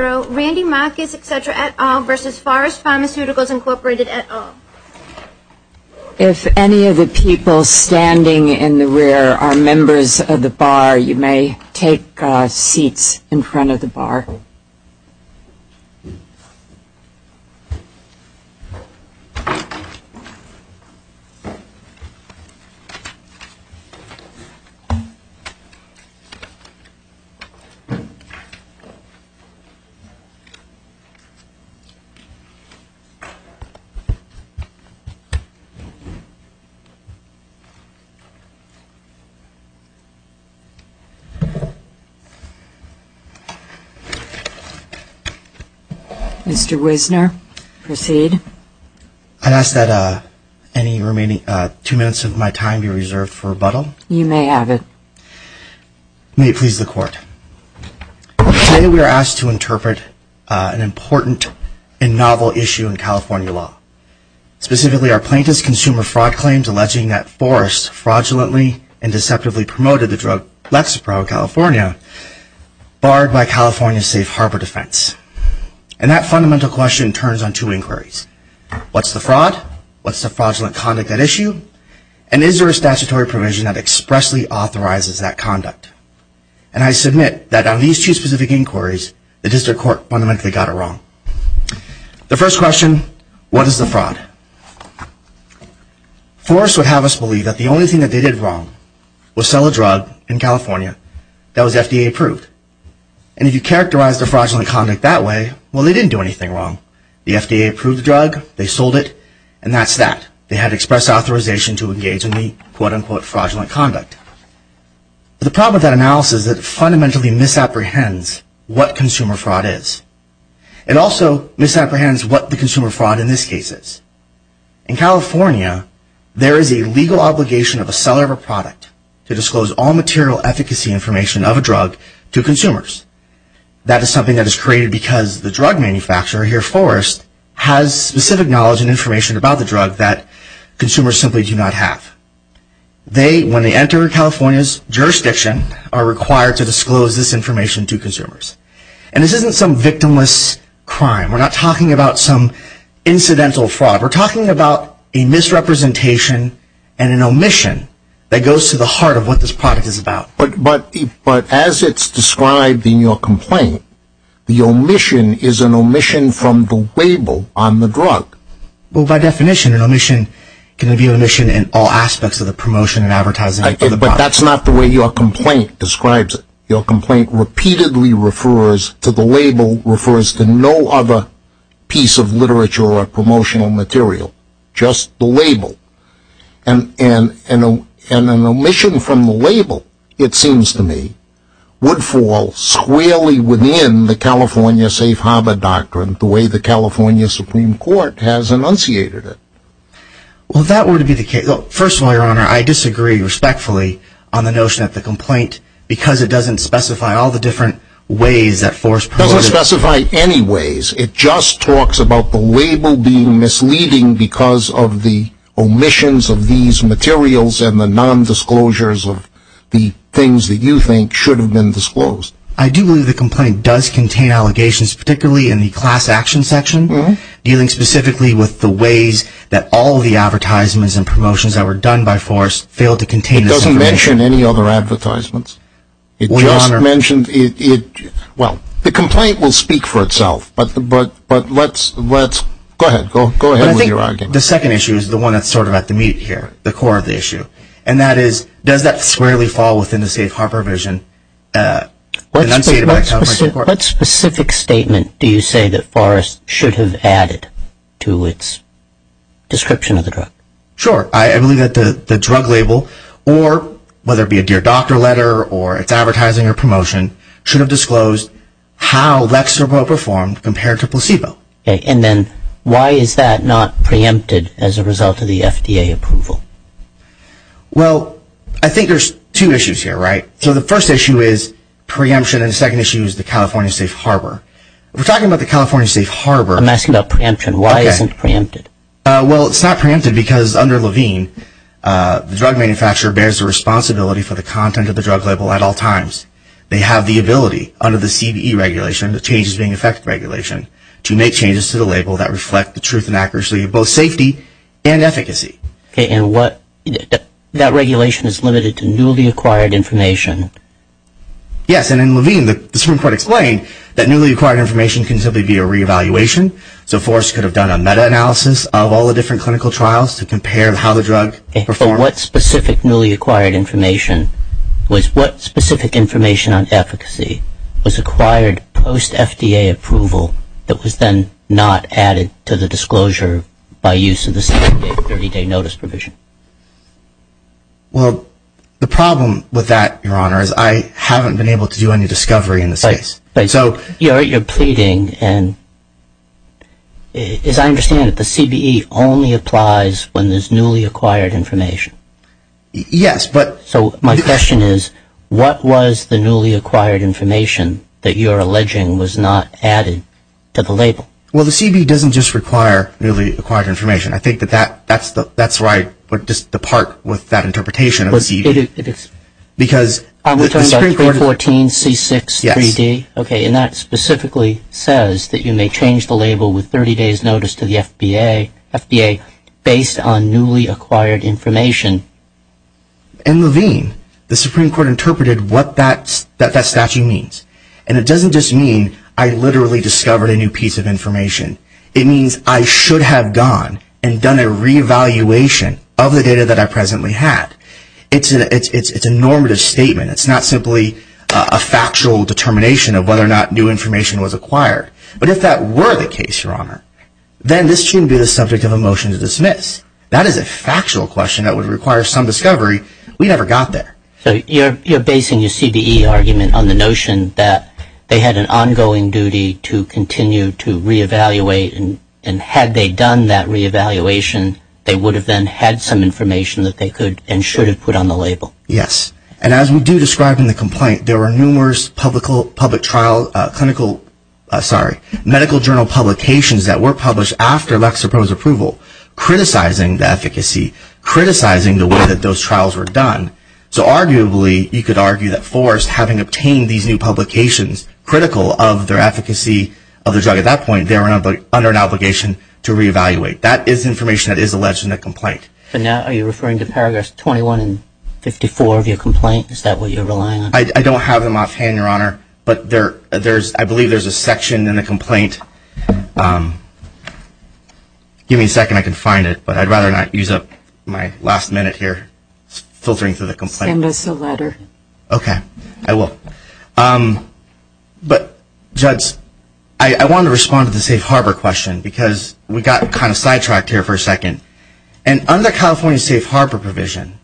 Randy Marcus, etc. et al. versus Forest Pharmaceuticals, Inc. et al. If any of the people standing in the rear are members of the bar, you may take seats in front of the bar. Mr. Wisner, proceed. I'd ask that any remaining two minutes of my time be reserved for rebuttal. You may have it. May it please the Court. The first question, what is the fraud? Forest would have us believe that the only thing that they did wrong was sell a drug in California that was FDA approved. And if you characterize the fraudulent conduct that way, well, they didn't do anything wrong. The FDA approved the drug, they sold it, and that's that. They had express authorization to engage in the quote-unquote fraudulent conduct. The problem with that analysis is that it fundamentally misapprehends what consumer fraud is. It also misapprehends what the consumer fraud in this case is. In California, there is a legal obligation of a seller of a product to disclose all material efficacy information of a drug to consumers. That is something that is created because the drug manufacturer here, Forest, has specific knowledge and information about the drug that consumers simply do not have. They, when they enter California's jurisdiction, are required to disclose this information to consumers. And this isn't some victimless crime. We're not talking about some incidental fraud. We're talking about a misrepresentation and an omission that goes to the heart of what this product is about. But as it's described in your complaint, the omission is an omission from the label on the drug. Well, by definition, an omission can be an omission in all aspects of the promotion and advertising of the product. But that's not the way your complaint describes it. Your complaint repeatedly refers to the label, refers to no other piece of literature or promotional material, just the label. And an omission from the label, it seems to me, would fall squarely within the California Safe Harbor Doctrine, the way the California Supreme Court has enunciated it. Well, that would be the case. Well, first of all, Your Honor, I disagree respectfully on the notion of the complaint because it doesn't specify all the different ways that Forest provided. It doesn't specify any ways. It just talks about the label being misleading because of the omissions of these materials and the nondisclosures of the things that you think should have been disclosed. I do believe the complaint does contain allegations, particularly in the class action section, dealing specifically with the ways that all the advertisements and promotions that were done by Forest failed to contain the information. It didn't mention any other advertisements. Well, the complaint will speak for itself, but let's go ahead with your argument. But I think the second issue is the one that's sort of at the meat here, the core of the issue. And that is, does that squarely fall within the Safe Harbor vision enunciated by the California Supreme Court? What specific statement do you say that Forest should have added to its description of the drug? Sure. I believe that the drug label, or whether it be a Dear Doctor letter or its advertising or promotion, should have disclosed how Lexarbo performed compared to placebo. Okay. And then why is that not preempted as a result of the FDA approval? Well, I think there's two issues here, right? So the first issue is preemption and the second issue is the California Safe Harbor. If we're talking about the California Safe Harbor... I'm asking about preemption. Why isn't it preempted? Well, it's not preempted because under Levine, the drug manufacturer bears the responsibility for the content of the drug label at all times. They have the ability under the CBE regulation, the Changes Being Effect regulation, to make changes to the label that reflect the truth and accuracy of both safety and efficacy. Okay. And that regulation is limited to newly acquired information. Yes. And in Levine, the Supreme Court explained that newly acquired information can simply be a re-evaluation. So Forrest could have done a meta-analysis of all the different clinical trials to compare how the drug performed. Okay. But what specific newly acquired information was... What specific information on efficacy was acquired post-FDA approval that was then not added to the disclosure by use of the 30-day notice provision? Well, the problem with that, Your Honor, is I haven't been able to do any discovery in this case. Your Honor, you're pleading, and as I understand it, the CBE only applies when there's newly acquired information. Yes, but... So my question is, what was the newly acquired information that you're alleging was not added to the label? Well, the CBE doesn't just require newly acquired information. I think that that's the part with that interpretation of the CBE. Because... Are we talking about 314C63D? Yes. Okay, and that specifically says that you may change the label with 30 days' notice to the FDA based on newly acquired information. In Levine, the Supreme Court interpreted what that statute means. And it doesn't just mean I literally discovered a new piece of information. It means I should have gone and done a re-evaluation of the data that I presently had. It's a normative statement. It's not simply a factual determination of whether or not new information was acquired. But if that were the case, Your Honor, then this shouldn't be the subject of a motion to dismiss. That is a factual question that would require some discovery. We never got there. So you're basing your CBE argument on the notion that they had an ongoing duty to continue to re-evaluate, and had they done that re-evaluation, they would have then had some information that they could and should have put on the label. Yes. And as we do describe in the complaint, there were numerous medical journal publications that were published after Lexapro's approval, criticizing the efficacy, criticizing the way that those trials were done. So arguably, you could argue that Forrest, having obtained these new publications, critical of their efficacy of the drug at that point, they were under an obligation to re-evaluate. That is information that is alleged in the complaint. But now are you referring to paragraphs 21 and 54 of your complaint? Is that what you're relying on? I don't have them offhand, Your Honor, but I believe there's a section in the complaint. Give me a second. I can find it, but I'd rather not use up my last minute here filtering through the complaint. Send us a letter. Okay. I will. But, Judge, I wanted to respond to the safe harbor question because we got kind of sidetracked here for a second. And under California's safe harbor provision,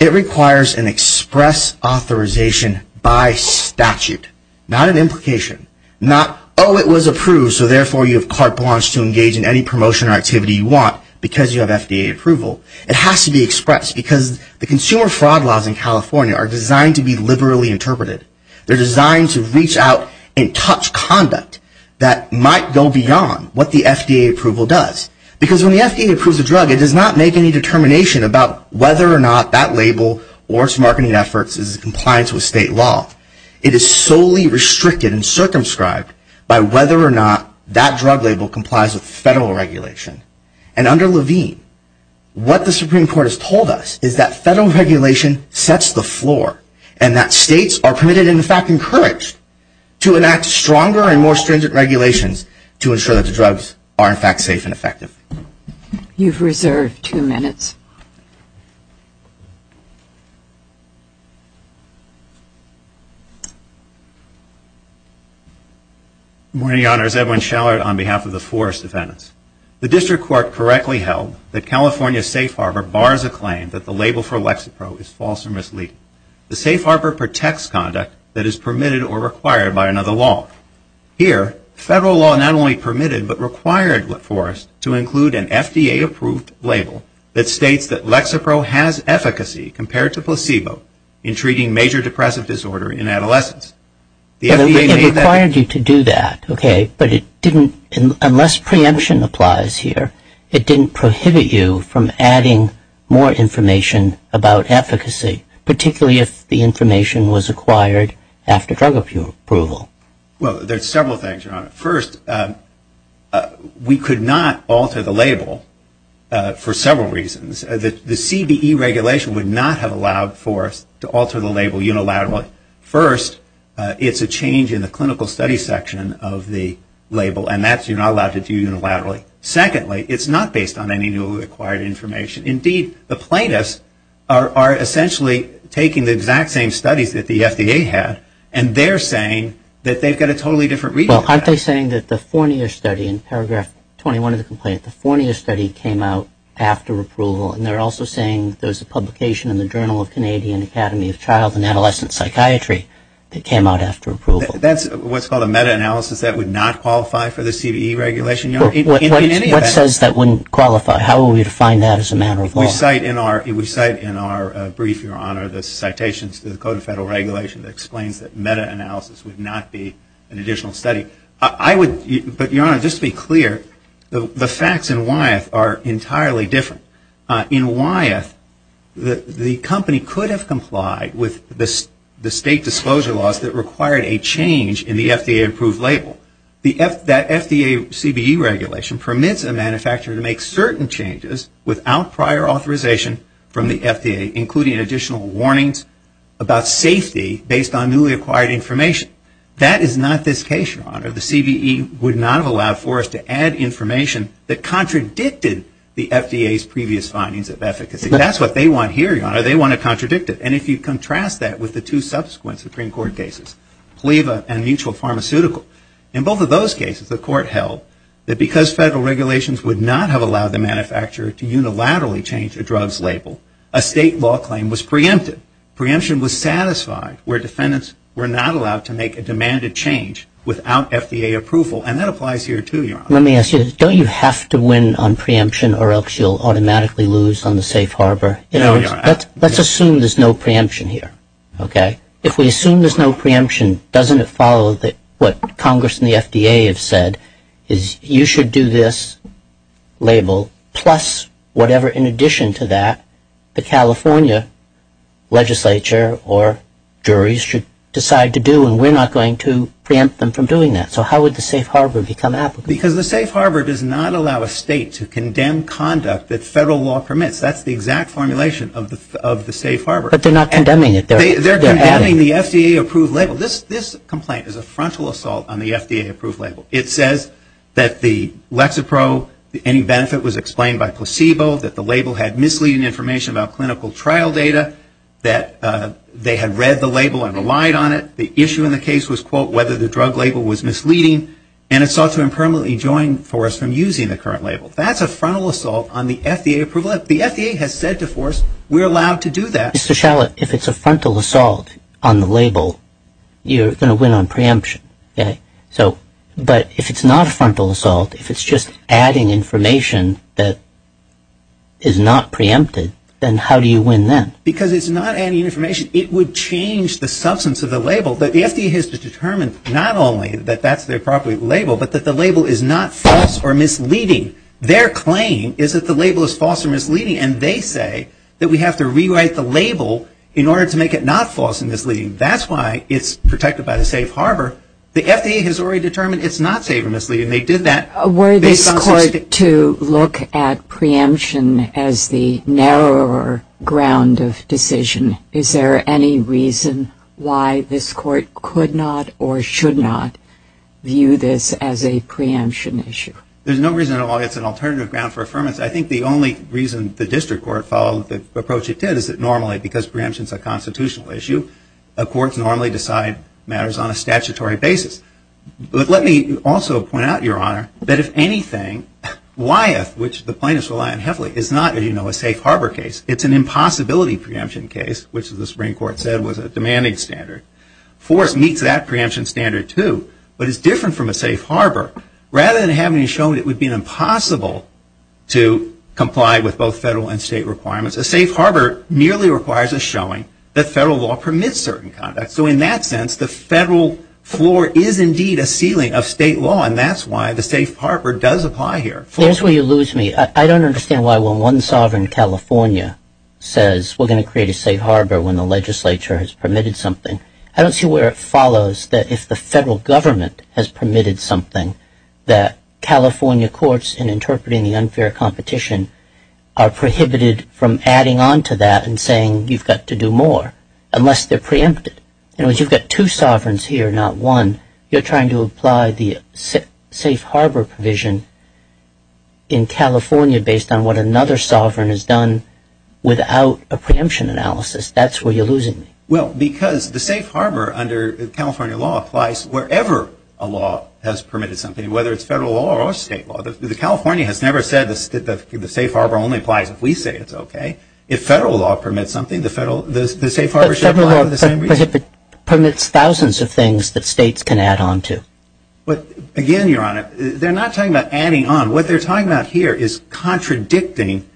it requires an express authorization by statute. Not an implication. Not, oh, it was approved, so therefore you have carte blanche to engage in any promotion or activity you want because you have FDA approval. It has to be expressed because the consumer fraud laws in California are designed to be liberally interpreted. They're designed to reach out and touch conduct that might go beyond what the FDA approval does. Because when the FDA approves a drug, it does not make any determination about whether or not that label or its marketing efforts is in compliance with state law. It is solely restricted and circumscribed by whether or not that drug label complies with federal regulation. And under Levine, what the Supreme Court has told us is that federal regulation sets the floor and that states are permitted and, in fact, encouraged to enact stronger and more stringent regulations to ensure that the drugs are, in fact, safe and effective. You've reserved two minutes. Good morning, Your Honors. Edwin Shallard on behalf of the forest defendants. The district court correctly held that California's safe harbor bars a claim that the label for Lexapro is false or misleading. The safe harbor protects conduct that is permitted or required by another law. Here, federal law not only permitted but required for us to include an FDA-approved label that states that Lexapro has efficacy compared to placebo in treating major depressive disorder in adolescents. It required you to do that, okay, but it didn't unless preemption applies here, it didn't prohibit you from adding more information about efficacy, particularly if the information was acquired after drug approval. Well, there's several things, Your Honor. First, we could not alter the label for several reasons. The CBE regulation would not have allowed for us to alter the label unilaterally. First, it's a change in the clinical study section of the label, and that's you're not allowed to do unilaterally. Secondly, it's not based on any new acquired information. Indeed, the plaintiffs are essentially taking the exact same studies that the FDA had, and they're saying that they've got a totally different reason for that. Well, aren't they saying that the four-year study in paragraph 21 of the complaint, the four-year study came out after approval, and they're also saying there's a publication in the Journal of Canadian Academy of Child and Adolescent Psychiatry that came out after approval. That's what's called a meta-analysis. That would not qualify for the CBE regulation, Your Honor. What says that wouldn't qualify? How would we define that as a matter of law? We cite in our brief, Your Honor, the citations to the Code of Federal Regulation that explains that meta-analysis would not be an additional study. But, Your Honor, just to be clear, the facts in Wyeth are entirely different. In Wyeth, the company could have complied with the state disclosure laws that required a change in the FDA-approved label. That FDA CBE regulation permits a manufacturer to make certain changes without prior authorization from the FDA, including additional warnings about safety based on newly acquired information. That is not this case, Your Honor. The CBE would not have allowed for us to add information that contradicted the FDA's previous findings of efficacy. That's what they want here, Your Honor. They want to contradict it. And if you contrast that with the two subsequent Supreme Court cases, PLEVA and Mutual Pharmaceutical, in both of those cases the court held that because federal regulations would not have allowed the manufacturer to unilaterally change the drugs label, a state law claim was preempted. Preemption was satisfied where defendants were not allowed to make a demanded change without FDA approval. And that applies here, too, Your Honor. Let me ask you, don't you have to win on preemption or else you'll automatically lose on the safe harbor? No, Your Honor. Let's assume there's no preemption here, okay? If we assume there's no preemption, doesn't it follow what Congress and the FDA have said is you should do this label plus whatever in addition to that the California legislature or juries should decide to do, and we're not going to preempt them from doing that. So how would the safe harbor become applicable? Because the safe harbor does not allow a state to condemn conduct that federal law permits. That's the exact formulation of the safe harbor. But they're not condemning it. They're condemning the FDA-approved label. This complaint is a frontal assault on the FDA-approved label. It says that the Lexapro, any benefit was explained by placebo, that the label had misleading information about clinical trial data, that they had read the label and relied on it. The issue in the case was, quote, whether the drug label was misleading, and it sought to impermanently join force from using the current label. That's a frontal assault on the FDA approval. The FDA has said to force. We're allowed to do that. Mr. Shalit, if it's a frontal assault on the label, you're going to win on preemption. But if it's not a frontal assault, if it's just adding information that is not preempted, then how do you win then? Because it's not adding information. It would change the substance of the label. The FDA has determined not only that that's the appropriate label, but that the label is not false or misleading. Their claim is that the label is false or misleading, and they say that we have to rewrite the label in order to make it not false or misleading. That's why it's protected by the safe harbor. The FDA has already determined it's not safe or misleading. They did that. Were this court to look at preemption as the narrower ground of decision? Is there any reason why this court could not or should not view this as a preemption issue? There's no reason at all. It's an alternative ground for affirmance. I think the only reason the district court followed the approach it did is that normally, because preemption is a constitutional issue, courts normally decide matters on a statutory basis. But let me also point out, Your Honor, that if anything, Wyeth, which the plaintiffs rely on heavily, is not, as you know, a safe harbor case. It's an impossibility preemption case, which the Supreme Court said was a demanding standard. Forrest meets that preemption standard too, but it's different from a safe harbor. Rather than having it shown it would be impossible to comply with both federal and state requirements, a safe harbor nearly requires a showing that federal law permits certain conduct. So in that sense, the federal floor is indeed a ceiling of state law, and that's why the safe harbor does apply here. There's where you lose me. I don't understand why when one sovereign in California says we're going to create a safe harbor when the legislature has permitted something, I don't see where it follows that if the federal government has permitted something, that California courts, in interpreting the unfair competition, are prohibited from adding on to that and saying you've got to do more unless they're preempted. In other words, you've got two sovereigns here, not one. You're trying to apply the safe harbor provision in California based on what another sovereign has done without a preemption analysis. That's where you're losing me. Well, because the safe harbor under California law applies wherever a law has permitted something, whether it's federal law or state law. California has never said the safe harbor only applies if we say it's okay. If federal law permits something, the safe harbor should apply for the same reason. But federal law permits thousands of things that states can add on to. Again, Your Honor, they're not talking about adding on. What they're talking about here is contradicting.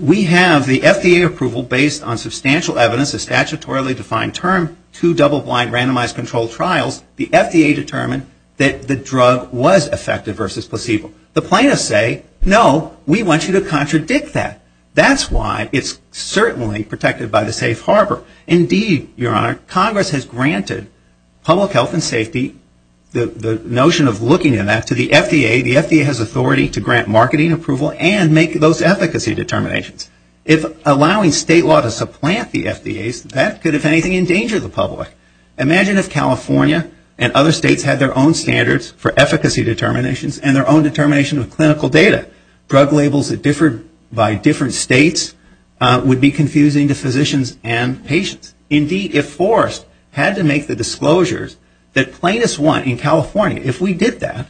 We have the FDA approval based on substantial evidence, a statutorily defined term, two double-blind randomized controlled trials. The FDA determined that the drug was effective versus placebo. The plaintiffs say, no, we want you to contradict that. That's why it's certainly protected by the safe harbor. Indeed, Your Honor, Congress has granted public health and safety, the notion of looking at that, to the FDA. The FDA has authority to grant marketing approval and make those efficacy determinations. If allowing state law to supplant the FDAs, that could, if anything, endanger the public. Imagine if California and other states had their own standards for efficacy determinations and their own determination of clinical data. Drug labels that differed by different states would be confusing to physicians and patients. Indeed, if Forrest had to make the disclosures that plaintiffs want in California, if we did that,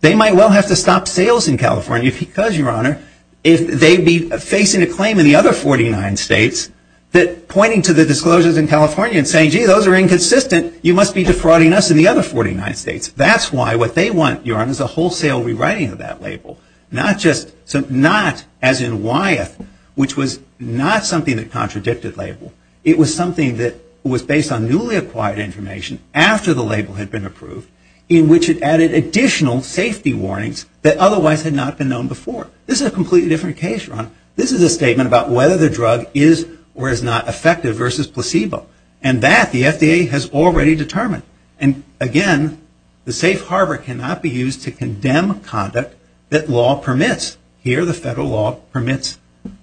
they might well have to stop sales in California because, Your Honor, if they'd be facing a claim in the other 49 states that pointing to the disclosures in California and saying, gee, those are inconsistent, you must be defrauding us in the other 49 states. That's why what they want, Your Honor, is a wholesale rewriting of that label. Not as in Wyeth, which was not something that contradicted label. It was something that was based on newly acquired information after the label had been approved in which it added additional safety warnings that otherwise had not been known before. This is a completely different case, Your Honor. This is a statement about whether the drug is or is not effective versus placebo. And that the FDA has already determined. And, again, the safe harbor cannot be used to condemn conduct that law permits. Here, the federal law permits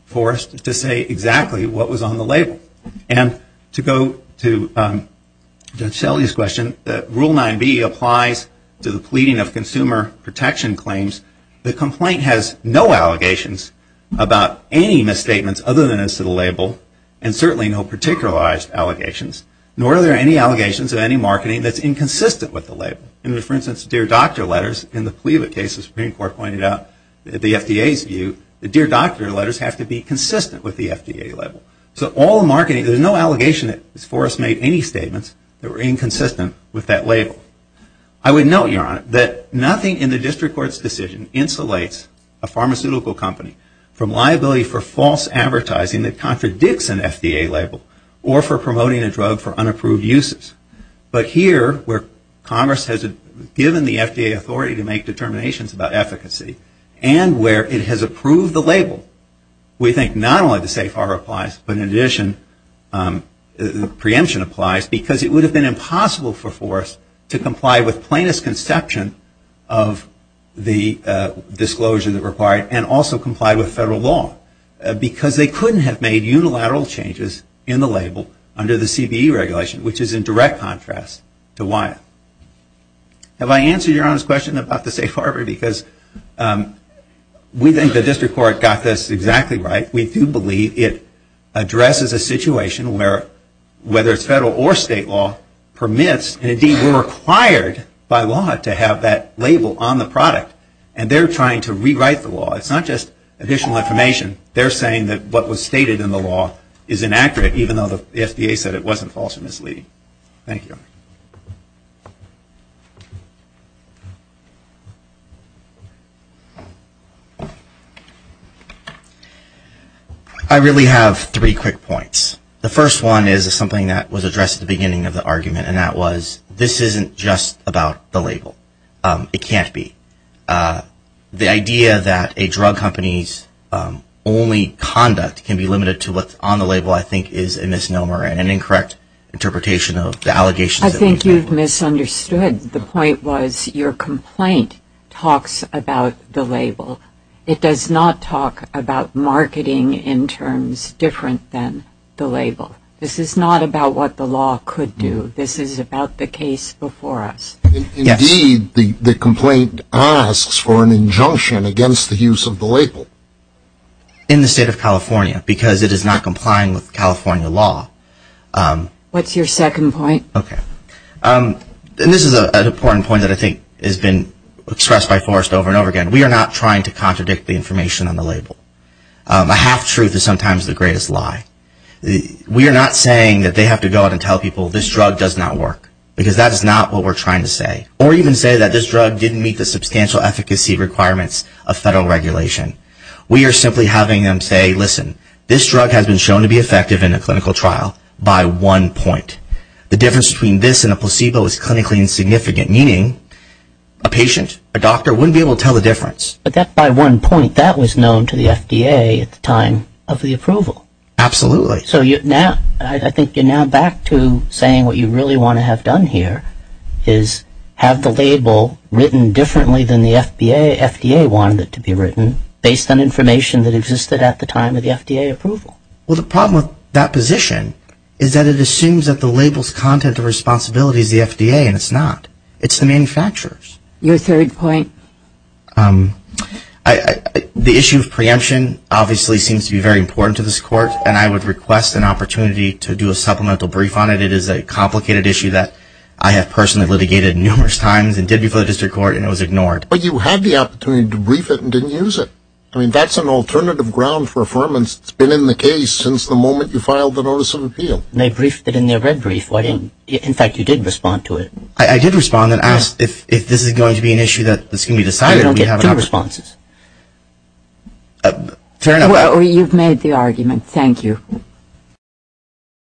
Forrest to say exactly what was on the label. And to go to Judge Shelley's question, Rule 9B applies to the pleading of consumer protection claims. The complaint has no allegations about any misstatements other than as to the label and certainly no particularized allegations, nor are there any allegations of any marketing that's inconsistent with the label. And, for instance, dear doctor letters in the plea of a case the Supreme Court pointed out, the FDA's view, the dear doctor letters have to be consistent with the FDA label. So all the marketing, there's no allegation that Forrest made any statements that were inconsistent with that label. I would note, Your Honor, that nothing in the district court's decision insulates a pharmaceutical company from liability for false advertising that contradicts an FDA label or for promoting a drug for unapproved uses. But here, where Congress has given the FDA authority to make determinations about efficacy and where it has approved the label, we think not only the safe harbor applies, but in addition preemption applies because it would have been impossible for Forrest to comply with plaintiff's conception of the disclosure that required and also comply with federal law because they couldn't have made unilateral changes in the label under the CBE regulation, which is in direct contrast to Wyeth. Have I answered Your Honor's question about the safe harbor? Because we think the district court got this exactly right. We do believe it addresses a situation where, whether it's federal or state law, permits and, indeed, we're required by law to have that label on the product. And they're trying to rewrite the law. It's not just additional information. They're saying that what was stated in the law is inaccurate, even though the FDA said it wasn't false or misleading. Thank you. I really have three quick points. The first one is something that was addressed at the beginning of the argument, and that was this isn't just about the label. It can't be. The idea that a drug company's only conduct can be limited to what's on the label, I think, is a misnomer and an incorrect interpretation of the allegations that we've made. I think you've misunderstood. The point was your complaint talks about the label. It does not talk about marketing in terms different than the label. This is not about what the law could do. This is about the case before us. Indeed, the complaint asks for an injunction against the use of the label. In the state of California, because it is not complying with California law. What's your second point? This is an important point that I think has been expressed by Forrest over and over again. We are not trying to contradict the information on the label. A half-truth is sometimes the greatest lie. We are not saying that they have to go out and tell people this drug does not work, because that's not what we're trying to say. Or even say that this drug didn't meet the substantial efficacy requirements of federal regulation. We are simply having them say, listen, this drug has been shown to be effective in a clinical trial by one point. The difference between this and a placebo is clinically insignificant, meaning a patient, a doctor, wouldn't be able to tell the difference. But that by one point, that was known to the FDA at the time of the approval. Absolutely. So I think you're now back to saying what you really want to have done here is have the label written differently than the FDA wanted it to be written, based on information that existed at the time of the FDA approval. Well, the problem with that position is that it assumes that the label's content of responsibility is the FDA, and it's not. It's the manufacturers. Your third point? The issue of preemption obviously seems to be very important to this court, and I would request an opportunity to do a supplemental brief on it. It is a complicated issue that I have personally litigated numerous times and did before the district court, and it was ignored. But you had the opportunity to brief it and didn't use it. I mean, that's an alternative ground for affirmance. It's been in the case since the moment you filed the notice of appeal. They briefed it in their red brief. In fact, you did respond to it. I did respond and asked if this is going to be an issue that's going to be decided. I don't get two responses. Fair enough. Well, you've made the argument. Thank you.